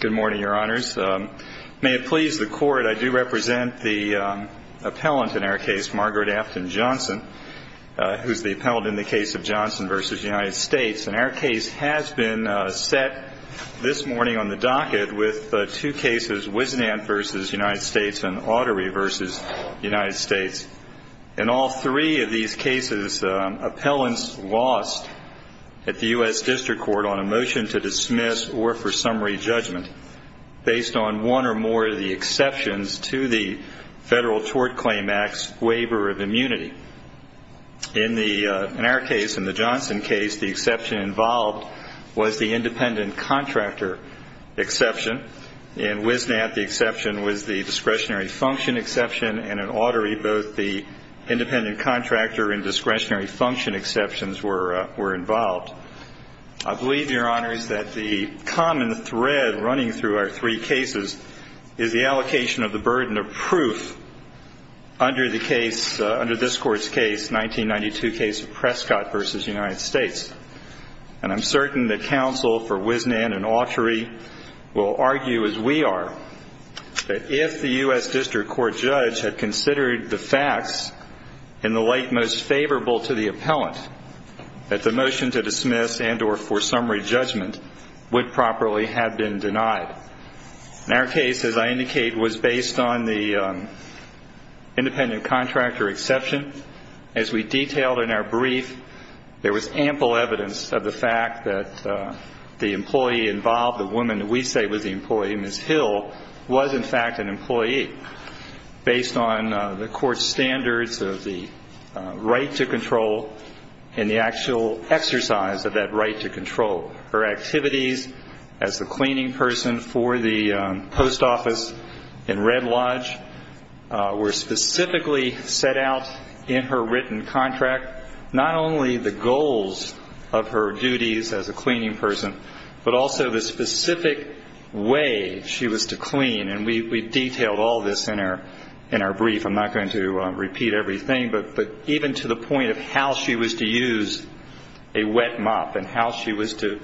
Good morning, Your Honors. May it please the Court, I do represent the appellant in our case, Margaret Afton Johnson, who is the appellant in the case of Johnson v. United States. And our case has been set this morning on the docket with two cases, Wisnan v. United States and Autery v. United States. In all three of these cases, appellants lost at the U.S. District Court on a motion to dismiss or for summary judgment, based on one or more of the exceptions to the Federal Tort Claim Act's waiver of immunity. In our case, in the Johnson case, the exception involved was the independent contractor exception. In Wisnan, the exception was the discretionary function exception. And in Autery, both the independent contractor and discretionary function exceptions were involved. I believe, Your Honors, that the common thread running through our three cases is the allocation of the burden of proof under the case, under this Court's case, 1992 case of Prescott v. United States. And I'm certain that counsel for Wisnan and Autery will argue, as we are, that if the U.S. District Court judge had considered the facts in the light most favorable to the appellant, that the motion to dismiss and or for summary judgment would properly have been denied. And our case, as I indicate, was based on the independent contractor exception. As we detailed in our brief, there was ample evidence of the fact that the employee involved, the woman we say was the employee, Ms. Hill, was in fact an employee, based on the Court's standards of the right to control and the actual exercise of that right to control. Her activities as the cleaning person for the post office in Red Lodge were specifically set out in her written contract, not only the goals of her duties as a cleaning person, but also the specific way she was to clean. And we detailed all this in our brief. I'm not going to repeat everything, but even to the point of how she was to use a wet mop and how she was to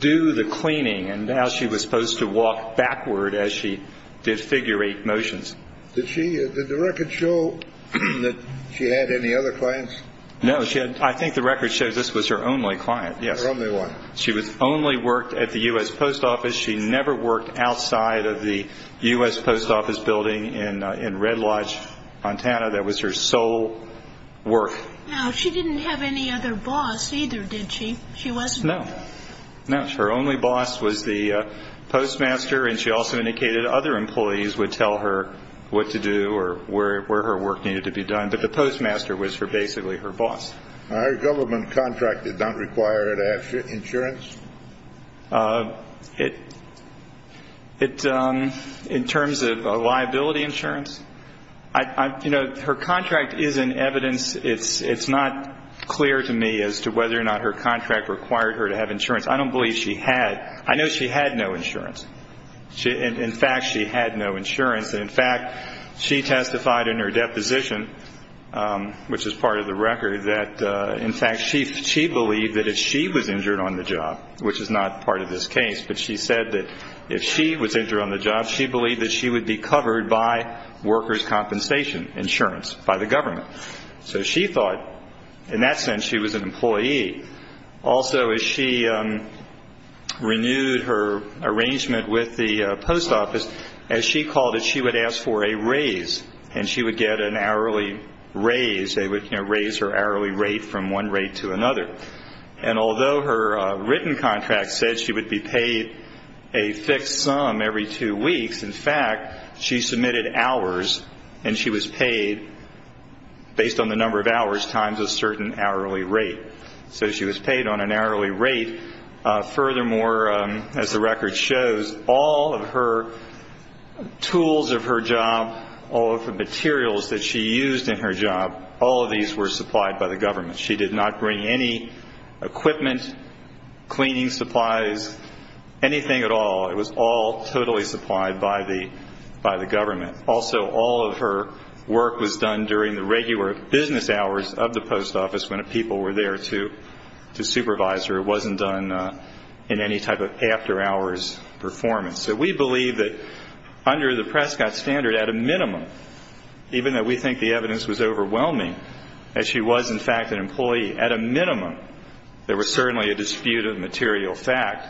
do the cleaning and how she was supposed to walk backward as she did figure eight motions. Did the record show that she had any other clients? No. I think the record shows this was her only client, yes. Her only one. She only worked at the U.S. Post Office. She never worked outside of the U.S. Post Office building in Red Lodge, Montana. That was her sole work. Now, she didn't have any other boss either, did she? She wasn't. No. No. Her only boss was the postmaster, and she also indicated other employees would tell her what to do or where her work needed to be done. But the postmaster was basically her boss. Her government contract did not require her to have insurance? In terms of liability insurance? You know, her contract is in evidence. It's not clear to me as to whether or not her contract required her to have insurance. I don't believe she had. I know she had no insurance. In fact, she had no insurance. And, in fact, she testified in her deposition, which is part of the record, that, in fact, she believed that if she was injured on the job, which is not part of this case, but she said that if she was injured on the job, she believed that she would be covered by workers' compensation insurance by the government. So she thought, in that sense, she was an employee. Also, as she renewed her arrangement with the post office, as she called it, she would ask for a raise, and she would get an hourly raise. They would raise her hourly rate from one rate to another. And although her written contract said she would be paid a fixed sum every two weeks, in fact, she submitted hours, and she was paid, based on the number of hours, times a certain hourly rate. So she was paid on an hourly rate. Furthermore, as the record shows, all of her tools of her job, all of the materials that she used in her job, all of these were supplied by the government. She did not bring any equipment, cleaning supplies, anything at all. It was all totally supplied by the government. Also, all of her work was done during the regular business hours of the post office when people were there to supervise her. It wasn't done in any type of after-hours performance. So we believe that under the Prescott standard, at a minimum, even though we think the evidence was overwhelming, as she was, in fact, an employee, at a minimum, there was certainly a dispute of material fact.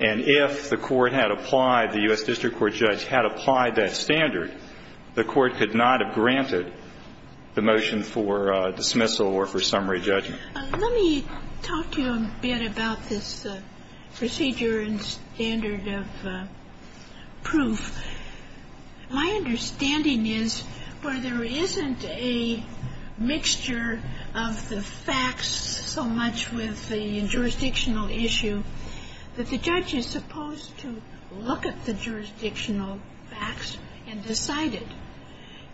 And if the court had applied, the U.S. District Court judge had applied that standard, the court could not have granted the motion for dismissal or for summary judgment. Let me talk to you a bit about this procedure and standard of proof. My understanding is where there isn't a mixture of the facts so much with the jurisdictional issue, that the judge is supposed to look at the jurisdictional facts and decide it.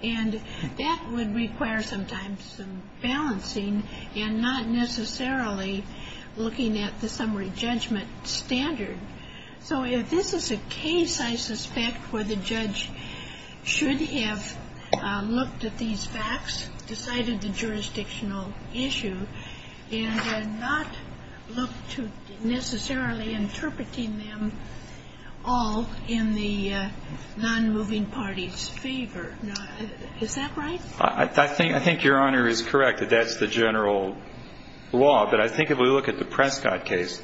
And that would require sometimes some balancing and not necessarily looking at the summary judgment standard. So if this is a case, I suspect, where the judge should have looked at these facts, decided the jurisdictional issue, and not looked to necessarily interpreting them all in the non-moving party's favor. Is that right? I think Your Honor is correct that that's the general law. But I think if we look at the Prescott case,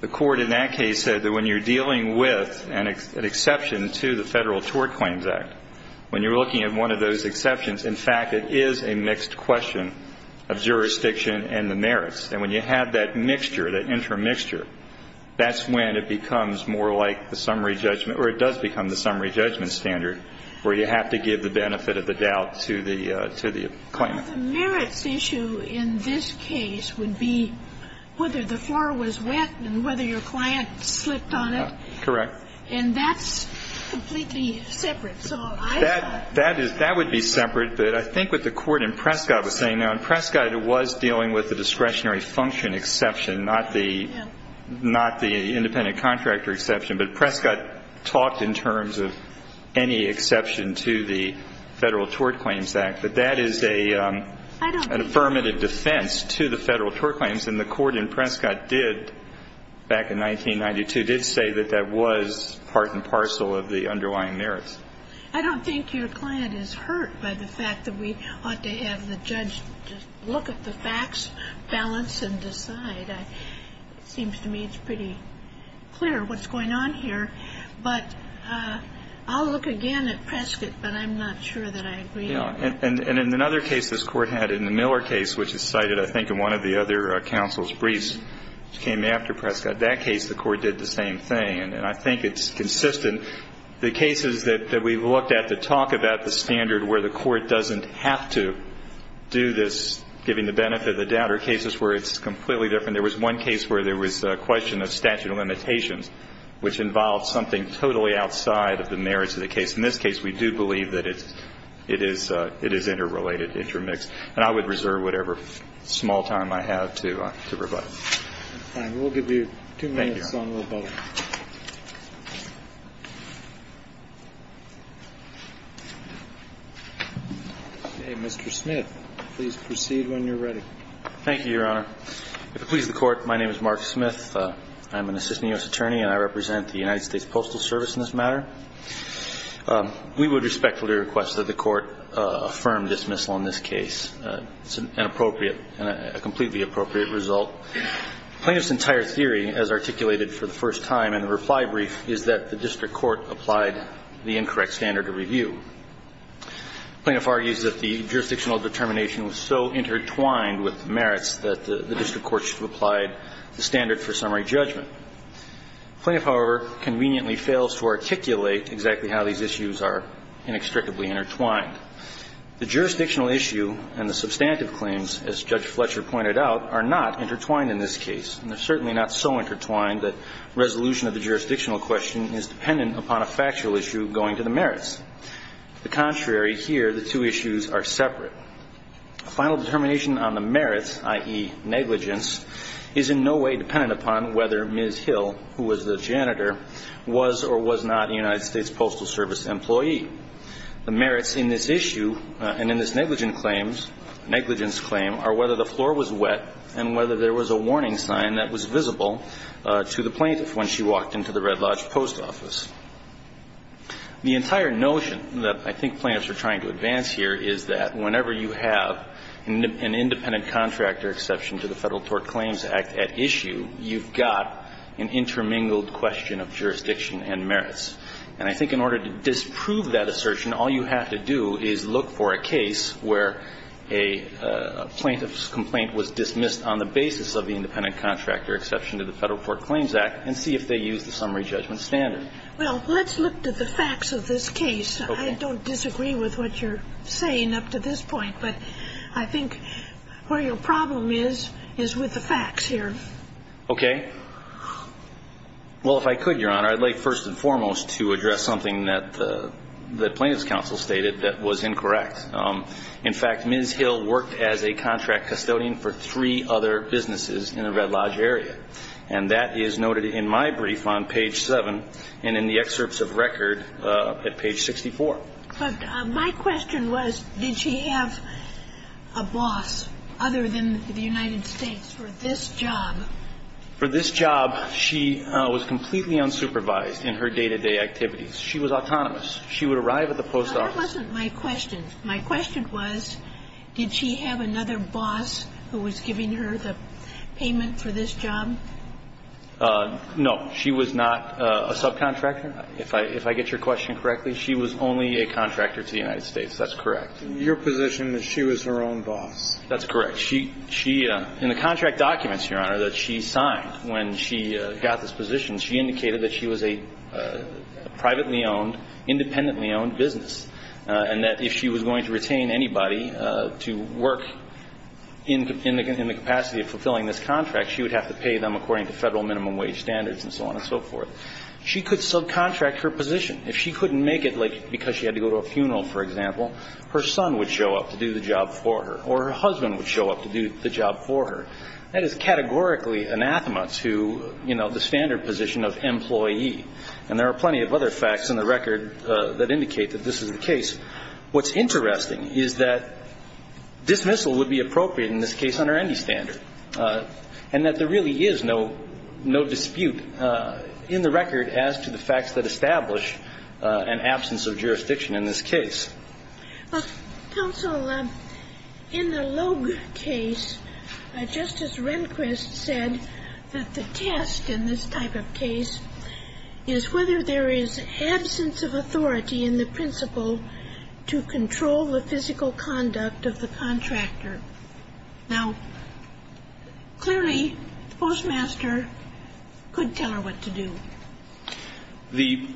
the court in that case said that when you're dealing with an exception to the Federal Tort Claims Act, when you're looking at one of those exceptions, in fact, it is a mixed question of jurisdiction and the merits. And when you have that mixture, that intermixture, that's when it becomes more like the summary judgment, or it does become the summary judgment standard, where you have to give the benefit of the doubt to the claimant. Well, the merits issue in this case would be whether the floor was wet and whether your client slipped on it. Correct. And that's completely separate. That would be separate. But I think what the court in Prescott was saying, now, in Prescott it was dealing with the discretionary function exception, not the independent contractor exception. But Prescott talked in terms of any exception to the Federal Tort Claims Act. But that is an affirmative defense to the Federal Tort Claims. And the court in Prescott did, back in 1992, did say that that was part and parcel of the underlying merits. I don't think your client is hurt by the fact that we ought to have the judge just look at the facts, balance and decide. It seems to me it's pretty clear what's going on here. But I'll look again at Prescott, but I'm not sure that I agree. Yeah. And in another case this Court had, in the Miller case, which is cited, I think, in one of the other counsel's briefs, which came after Prescott, that case the court did the same thing. And I think it's consistent. The cases that we've looked at that talk about the standard where the court doesn't have to do this, giving the benefit of the doubt, are cases where it's completely different. There was one case where there was a question of statute of limitations, which involved something totally outside of the merits of the case. In this case, we do believe that it is interrelated, intermixed. And I would reserve whatever small time I have to provide. All right. We'll give you two minutes on Roboto. Thank you, Your Honor. Okay. Mr. Smith, please proceed when you're ready. Thank you, Your Honor. If it pleases the Court, my name is Mark Smith. I'm an assistant U.S. attorney, and I represent the United States Postal Service in this matter. We would respectfully request that the Court affirm dismissal on this case. It's an appropriate and a completely appropriate result. Plaintiff's entire theory, as articulated for the first time in the reply brief, is that the district court applied the incorrect standard of review. Plaintiff argues that the jurisdictional determination was so intertwined with the merits that the district court should have applied the standard for summary Plaintiff, however, conveniently fails to articulate exactly how these issues are inextricably intertwined. The jurisdictional issue and the substantive claims, as Judge Fletcher pointed out, are not intertwined in this case. And they're certainly not so intertwined that resolution of the jurisdictional question is dependent upon a factual issue going to the merits. The contrary here, the two issues are separate. A final determination on the merits, i.e. negligence, is in no way dependent upon whether Ms. Hill, who was the janitor, was or was not a United States Postal Service employee. The merits in this issue and in this negligence claim are whether the floor was wet and whether there was a warning sign that was visible to the plaintiff when she walked into the Red Lodge Post Office. The entire notion that I think plaintiffs are trying to advance here is that whenever you have an independent contractor exception to the Federal Tort Claims Act at issue, you've got an intermingled question of jurisdiction and merits. And I think in order to disprove that assertion, all you have to do is look for a case where a plaintiff's complaint was dismissed on the basis of the independent contractor exception to the Federal Tort Claims Act and see if they use the summary judgment standard. Well, let's look to the facts of this case. Okay. I don't disagree with what you're saying up to this point, but I think where your problem is is with the facts here. Okay. Well, if I could, Your Honor, I'd like first and foremost to address something that the plaintiff's counsel stated that was incorrect. In fact, Ms. Hill worked as a contract custodian for three other businesses in the Red Lodge area. And that is noted in my brief on page 7 and in the excerpts of record at page 64. But my question was, did she have a boss other than the United States for this job? For this job, she was completely unsupervised in her day-to-day activities. She was autonomous. She would arrive at the post office. That wasn't my question. My question was, did she have another boss who was giving her the payment for this job? No. She was not a subcontractor. If I get your question correctly, she was only a contractor to the United States. That's correct. Your position is she was her own boss. That's correct. She – in the contract documents, Your Honor, that she signed when she got this position, she indicated that she was a privately owned, independently owned business and that if she was going to retain anybody to work in the capacity of fulfilling this contract, she would have to pay them according to Federal minimum wage standards and so on and so forth. She could subcontract her position. If she couldn't make it, like because she had to go to a funeral, for example, her son would show up to do the job for her or her husband would show up to do the job for her. That is categorically anathema to, you know, the standard position of employee. And there are plenty of other facts in the record that indicate that this is the case. What's interesting is that dismissal would be appropriate in this case under any fact that established an absence of jurisdiction in this case. Counsel, in the Logue case, Justice Rehnquist said that the test in this type of case is whether there is absence of authority in the principle to control the physical conduct of the contractor. Now, clearly, the postmaster could tell her what to do. The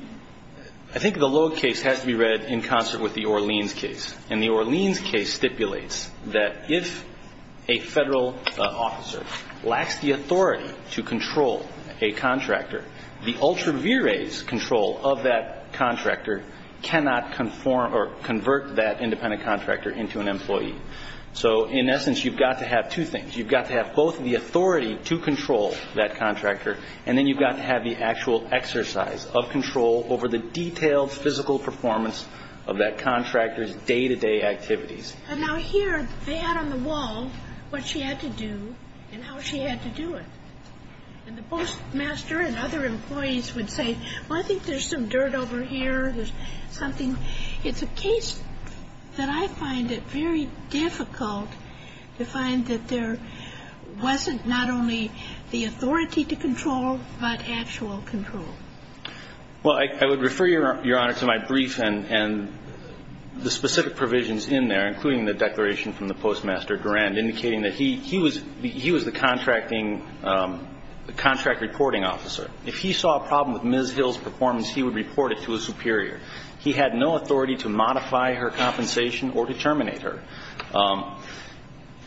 – I think the Logue case has to be read in concert with the Orleans case. And the Orleans case stipulates that if a Federal officer lacks the authority to control a contractor, the ultra vires control of that contractor cannot conform or convert that independent contractor into an employee. So, in essence, you've got to have two things. You've got to have both the authority to control that contractor, and then you've got to have the actual exercise of control over the detailed physical performance of that contractor's day-to-day activities. Now, here, they had on the wall what she had to do and how she had to do it. And the postmaster and other employees would say, well, I think there's some dirt over here. There's something. So it's a case that I find it very difficult to find that there wasn't not only the authority to control, but actual control. Well, I would refer, Your Honor, to my brief and the specific provisions in there, including the declaration from the postmaster, Durand, indicating that he was the contracting – the contract reporting officer. If he saw a problem with Ms. Hill's performance, he would report it to a superior. He had no authority to modify her compensation or to terminate her.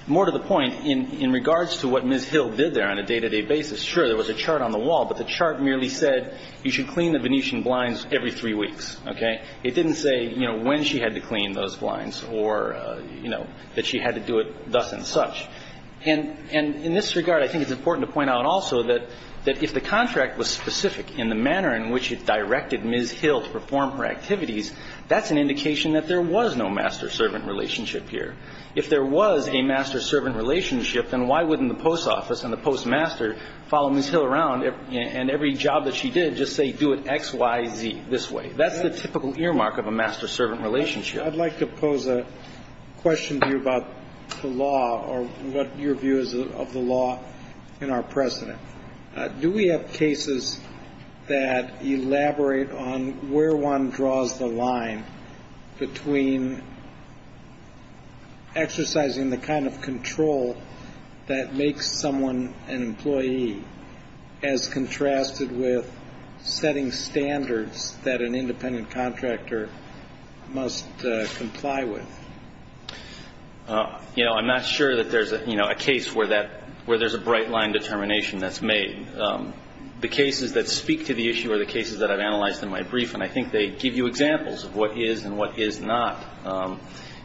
More to the point, in regards to what Ms. Hill did there on a day-to-day basis, sure, there was a chart on the wall, but the chart merely said you should clean the Venetian blinds every three weeks, okay? It didn't say, you know, when she had to clean those blinds or, you know, that she had to do it thus and such. And in this regard, I think it's important to point out also that if the contract was specific in the manner in which it directed Ms. Hill to perform her activities, that's an indication that there was no master-servant relationship here. If there was a master-servant relationship, then why wouldn't the post office and the postmaster follow Ms. Hill around and every job that she did just say do it X, Y, Z this way? That's the typical earmark of a master-servant relationship. I'd like to pose a question to you about the law or what your view is of the law in our precedent. Do we have cases that elaborate on where one draws the line between exercising the kind of control that makes someone an employee as contrasted with setting standards that an independent contractor must comply with? You know, I'm not sure that there's a case where there's a bright line determination that's made. The cases that speak to the issue are the cases that I've analyzed in my brief, and I think they give you examples of what is and what is not.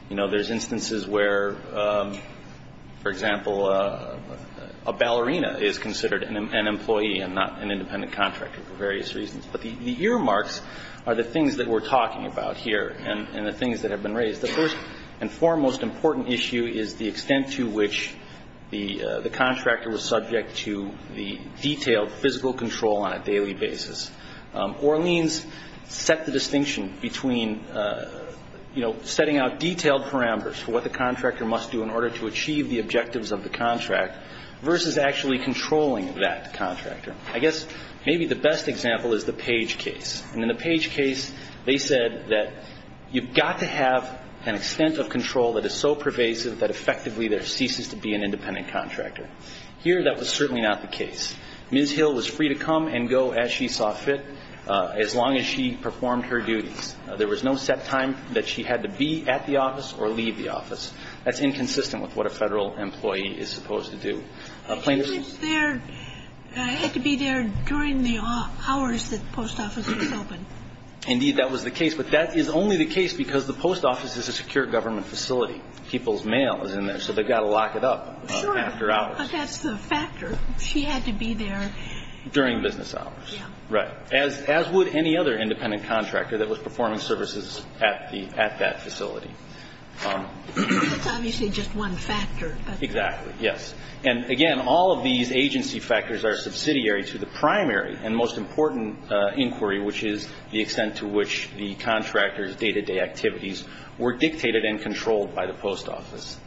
You know, there's instances where, for example, a ballerina is considered an employee and not an independent contractor for various reasons. But the earmarks are the things that we're talking about here and the things that have been raised. The first and foremost important issue is the extent to which the contractor was subject to the detailed physical control on a daily basis. Orleans set the distinction between, you know, setting out detailed parameters for what the contractor must do in order to achieve the objectives of the contract versus actually controlling that contractor. I guess maybe the best example is the Page case. And in the Page case they said that you've got to have an extent of control that is so pervasive that effectively there ceases to be an independent contractor. Here that was certainly not the case. Ms. Hill was free to come and go as she saw fit as long as she performed her duties. There was no set time that she had to be at the office or leave the office. That's inconsistent with what a federal employee is supposed to do. She had to be there during the hours that the post office was open. Indeed, that was the case. But that is only the case because the post office is a secure government facility. People's mail is in there, so they've got to lock it up after hours. Sure, but that's the factor. She had to be there. During business hours. Right. As would any other independent contractor that was performing services at that facility. That's obviously just one factor. Exactly, yes. And, again, all of these agency factors are subsidiary to the primary and most important inquiry, which is the extent to which the contractor's day-to-day activities were dictated and controlled by the post office.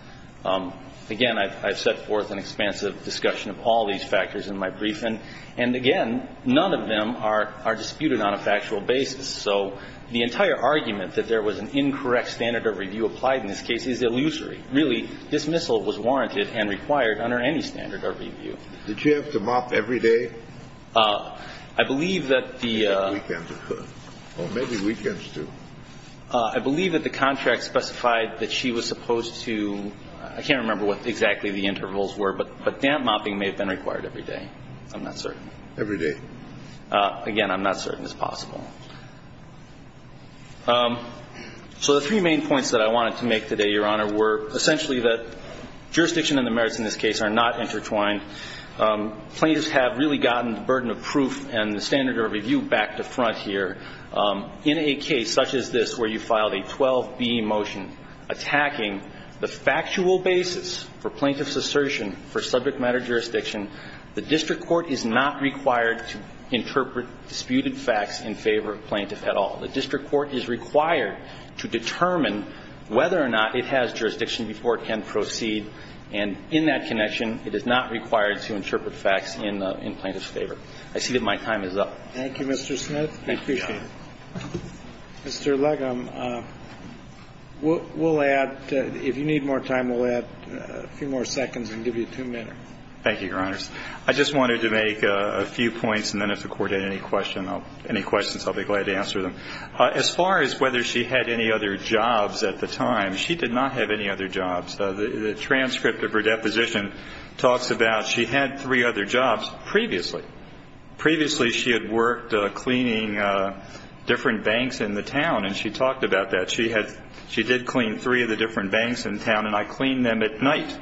Again, I've set forth an expansive discussion of all these factors in my briefing. And, again, none of them are disputed on a factual basis. So the entire argument that there was an incorrect standard of review applied in this case is illusory. I believe that the contract specified that she was supposed to, I can't remember what exactly the intervals were, but damp mopping may have been required every day. I'm not certain. Every day. Again, I'm not certain it's possible. So the three main points that I wanted to make today, Your Honor, were, Second of all, the fact that she was supposed to be there. So essentially the jurisdiction and the merits in this case are not intertwined. Plaintiffs have really gotten the burden of proof and the standard of review back to front here. In a case such as this where you filed a 12B motion attacking the factual basis for plaintiff's assertion for subject matter jurisdiction, the district court is not required to interpret disputed facts in favor of plaintiff at all. The district court is required to determine whether or not it has jurisdiction before it can proceed. And in that connection, it is not required to interpret facts in plaintiff's favor. I see that my time is up. Thank you, Mr. Smith. I appreciate it. Mr. Legham, we'll add, if you need more time, we'll add a few more seconds and give you two minutes. Thank you, Your Honors. I just wanted to make a few points, and then if the Court had any questions, I'll be glad to answer them. As far as whether she had any other jobs at the time, she did not have any other jobs. The transcript of her deposition talks about she had three other jobs previously. Previously she had worked cleaning different banks in the town, and she talked about that. She did clean three of the different banks in town, and I cleaned them at night.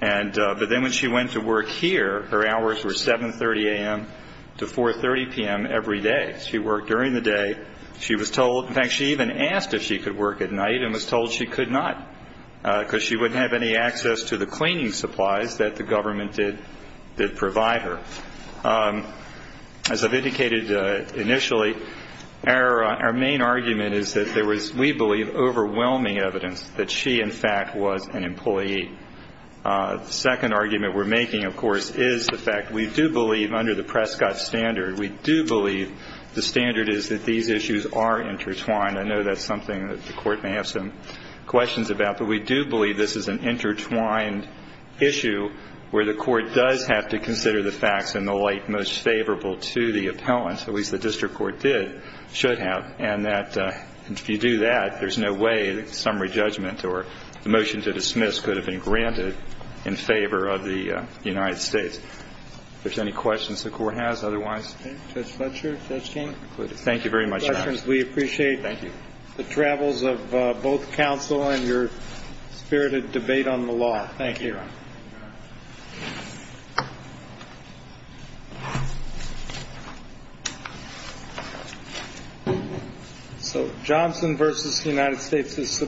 But then when she went to work here, her hours were 7.30 a.m. to 4.30 p.m. every day. She worked during the day. She was told, in fact, she even asked if she could work at night and was told she could not because she wouldn't have any access to the cleaning supplies that the government did provide her. As I've indicated initially, our main argument is that there was, we believe, overwhelming evidence that she, in fact, was an employee. The second argument we're making, of course, is the fact we do believe, under the Prescott standard, we do believe the standard is that these issues are intertwined. I know that's something that the Court may have some questions about, but we do believe this is an intertwined issue where the Court does have to consider the facts in the light most favorable to the appellant, at least the district court did, should have, and that if you do that, there's no way that summary judgment or the motion to dismiss could have been granted in favor of the United States. If there's any questions the Court has, otherwise. Judge Fletcher, Judge King. Thank you very much, Your Honor. We appreciate the travels of both counsel and your spirited debate on the law. Thank you, Your Honor. Thank you, Your Honor.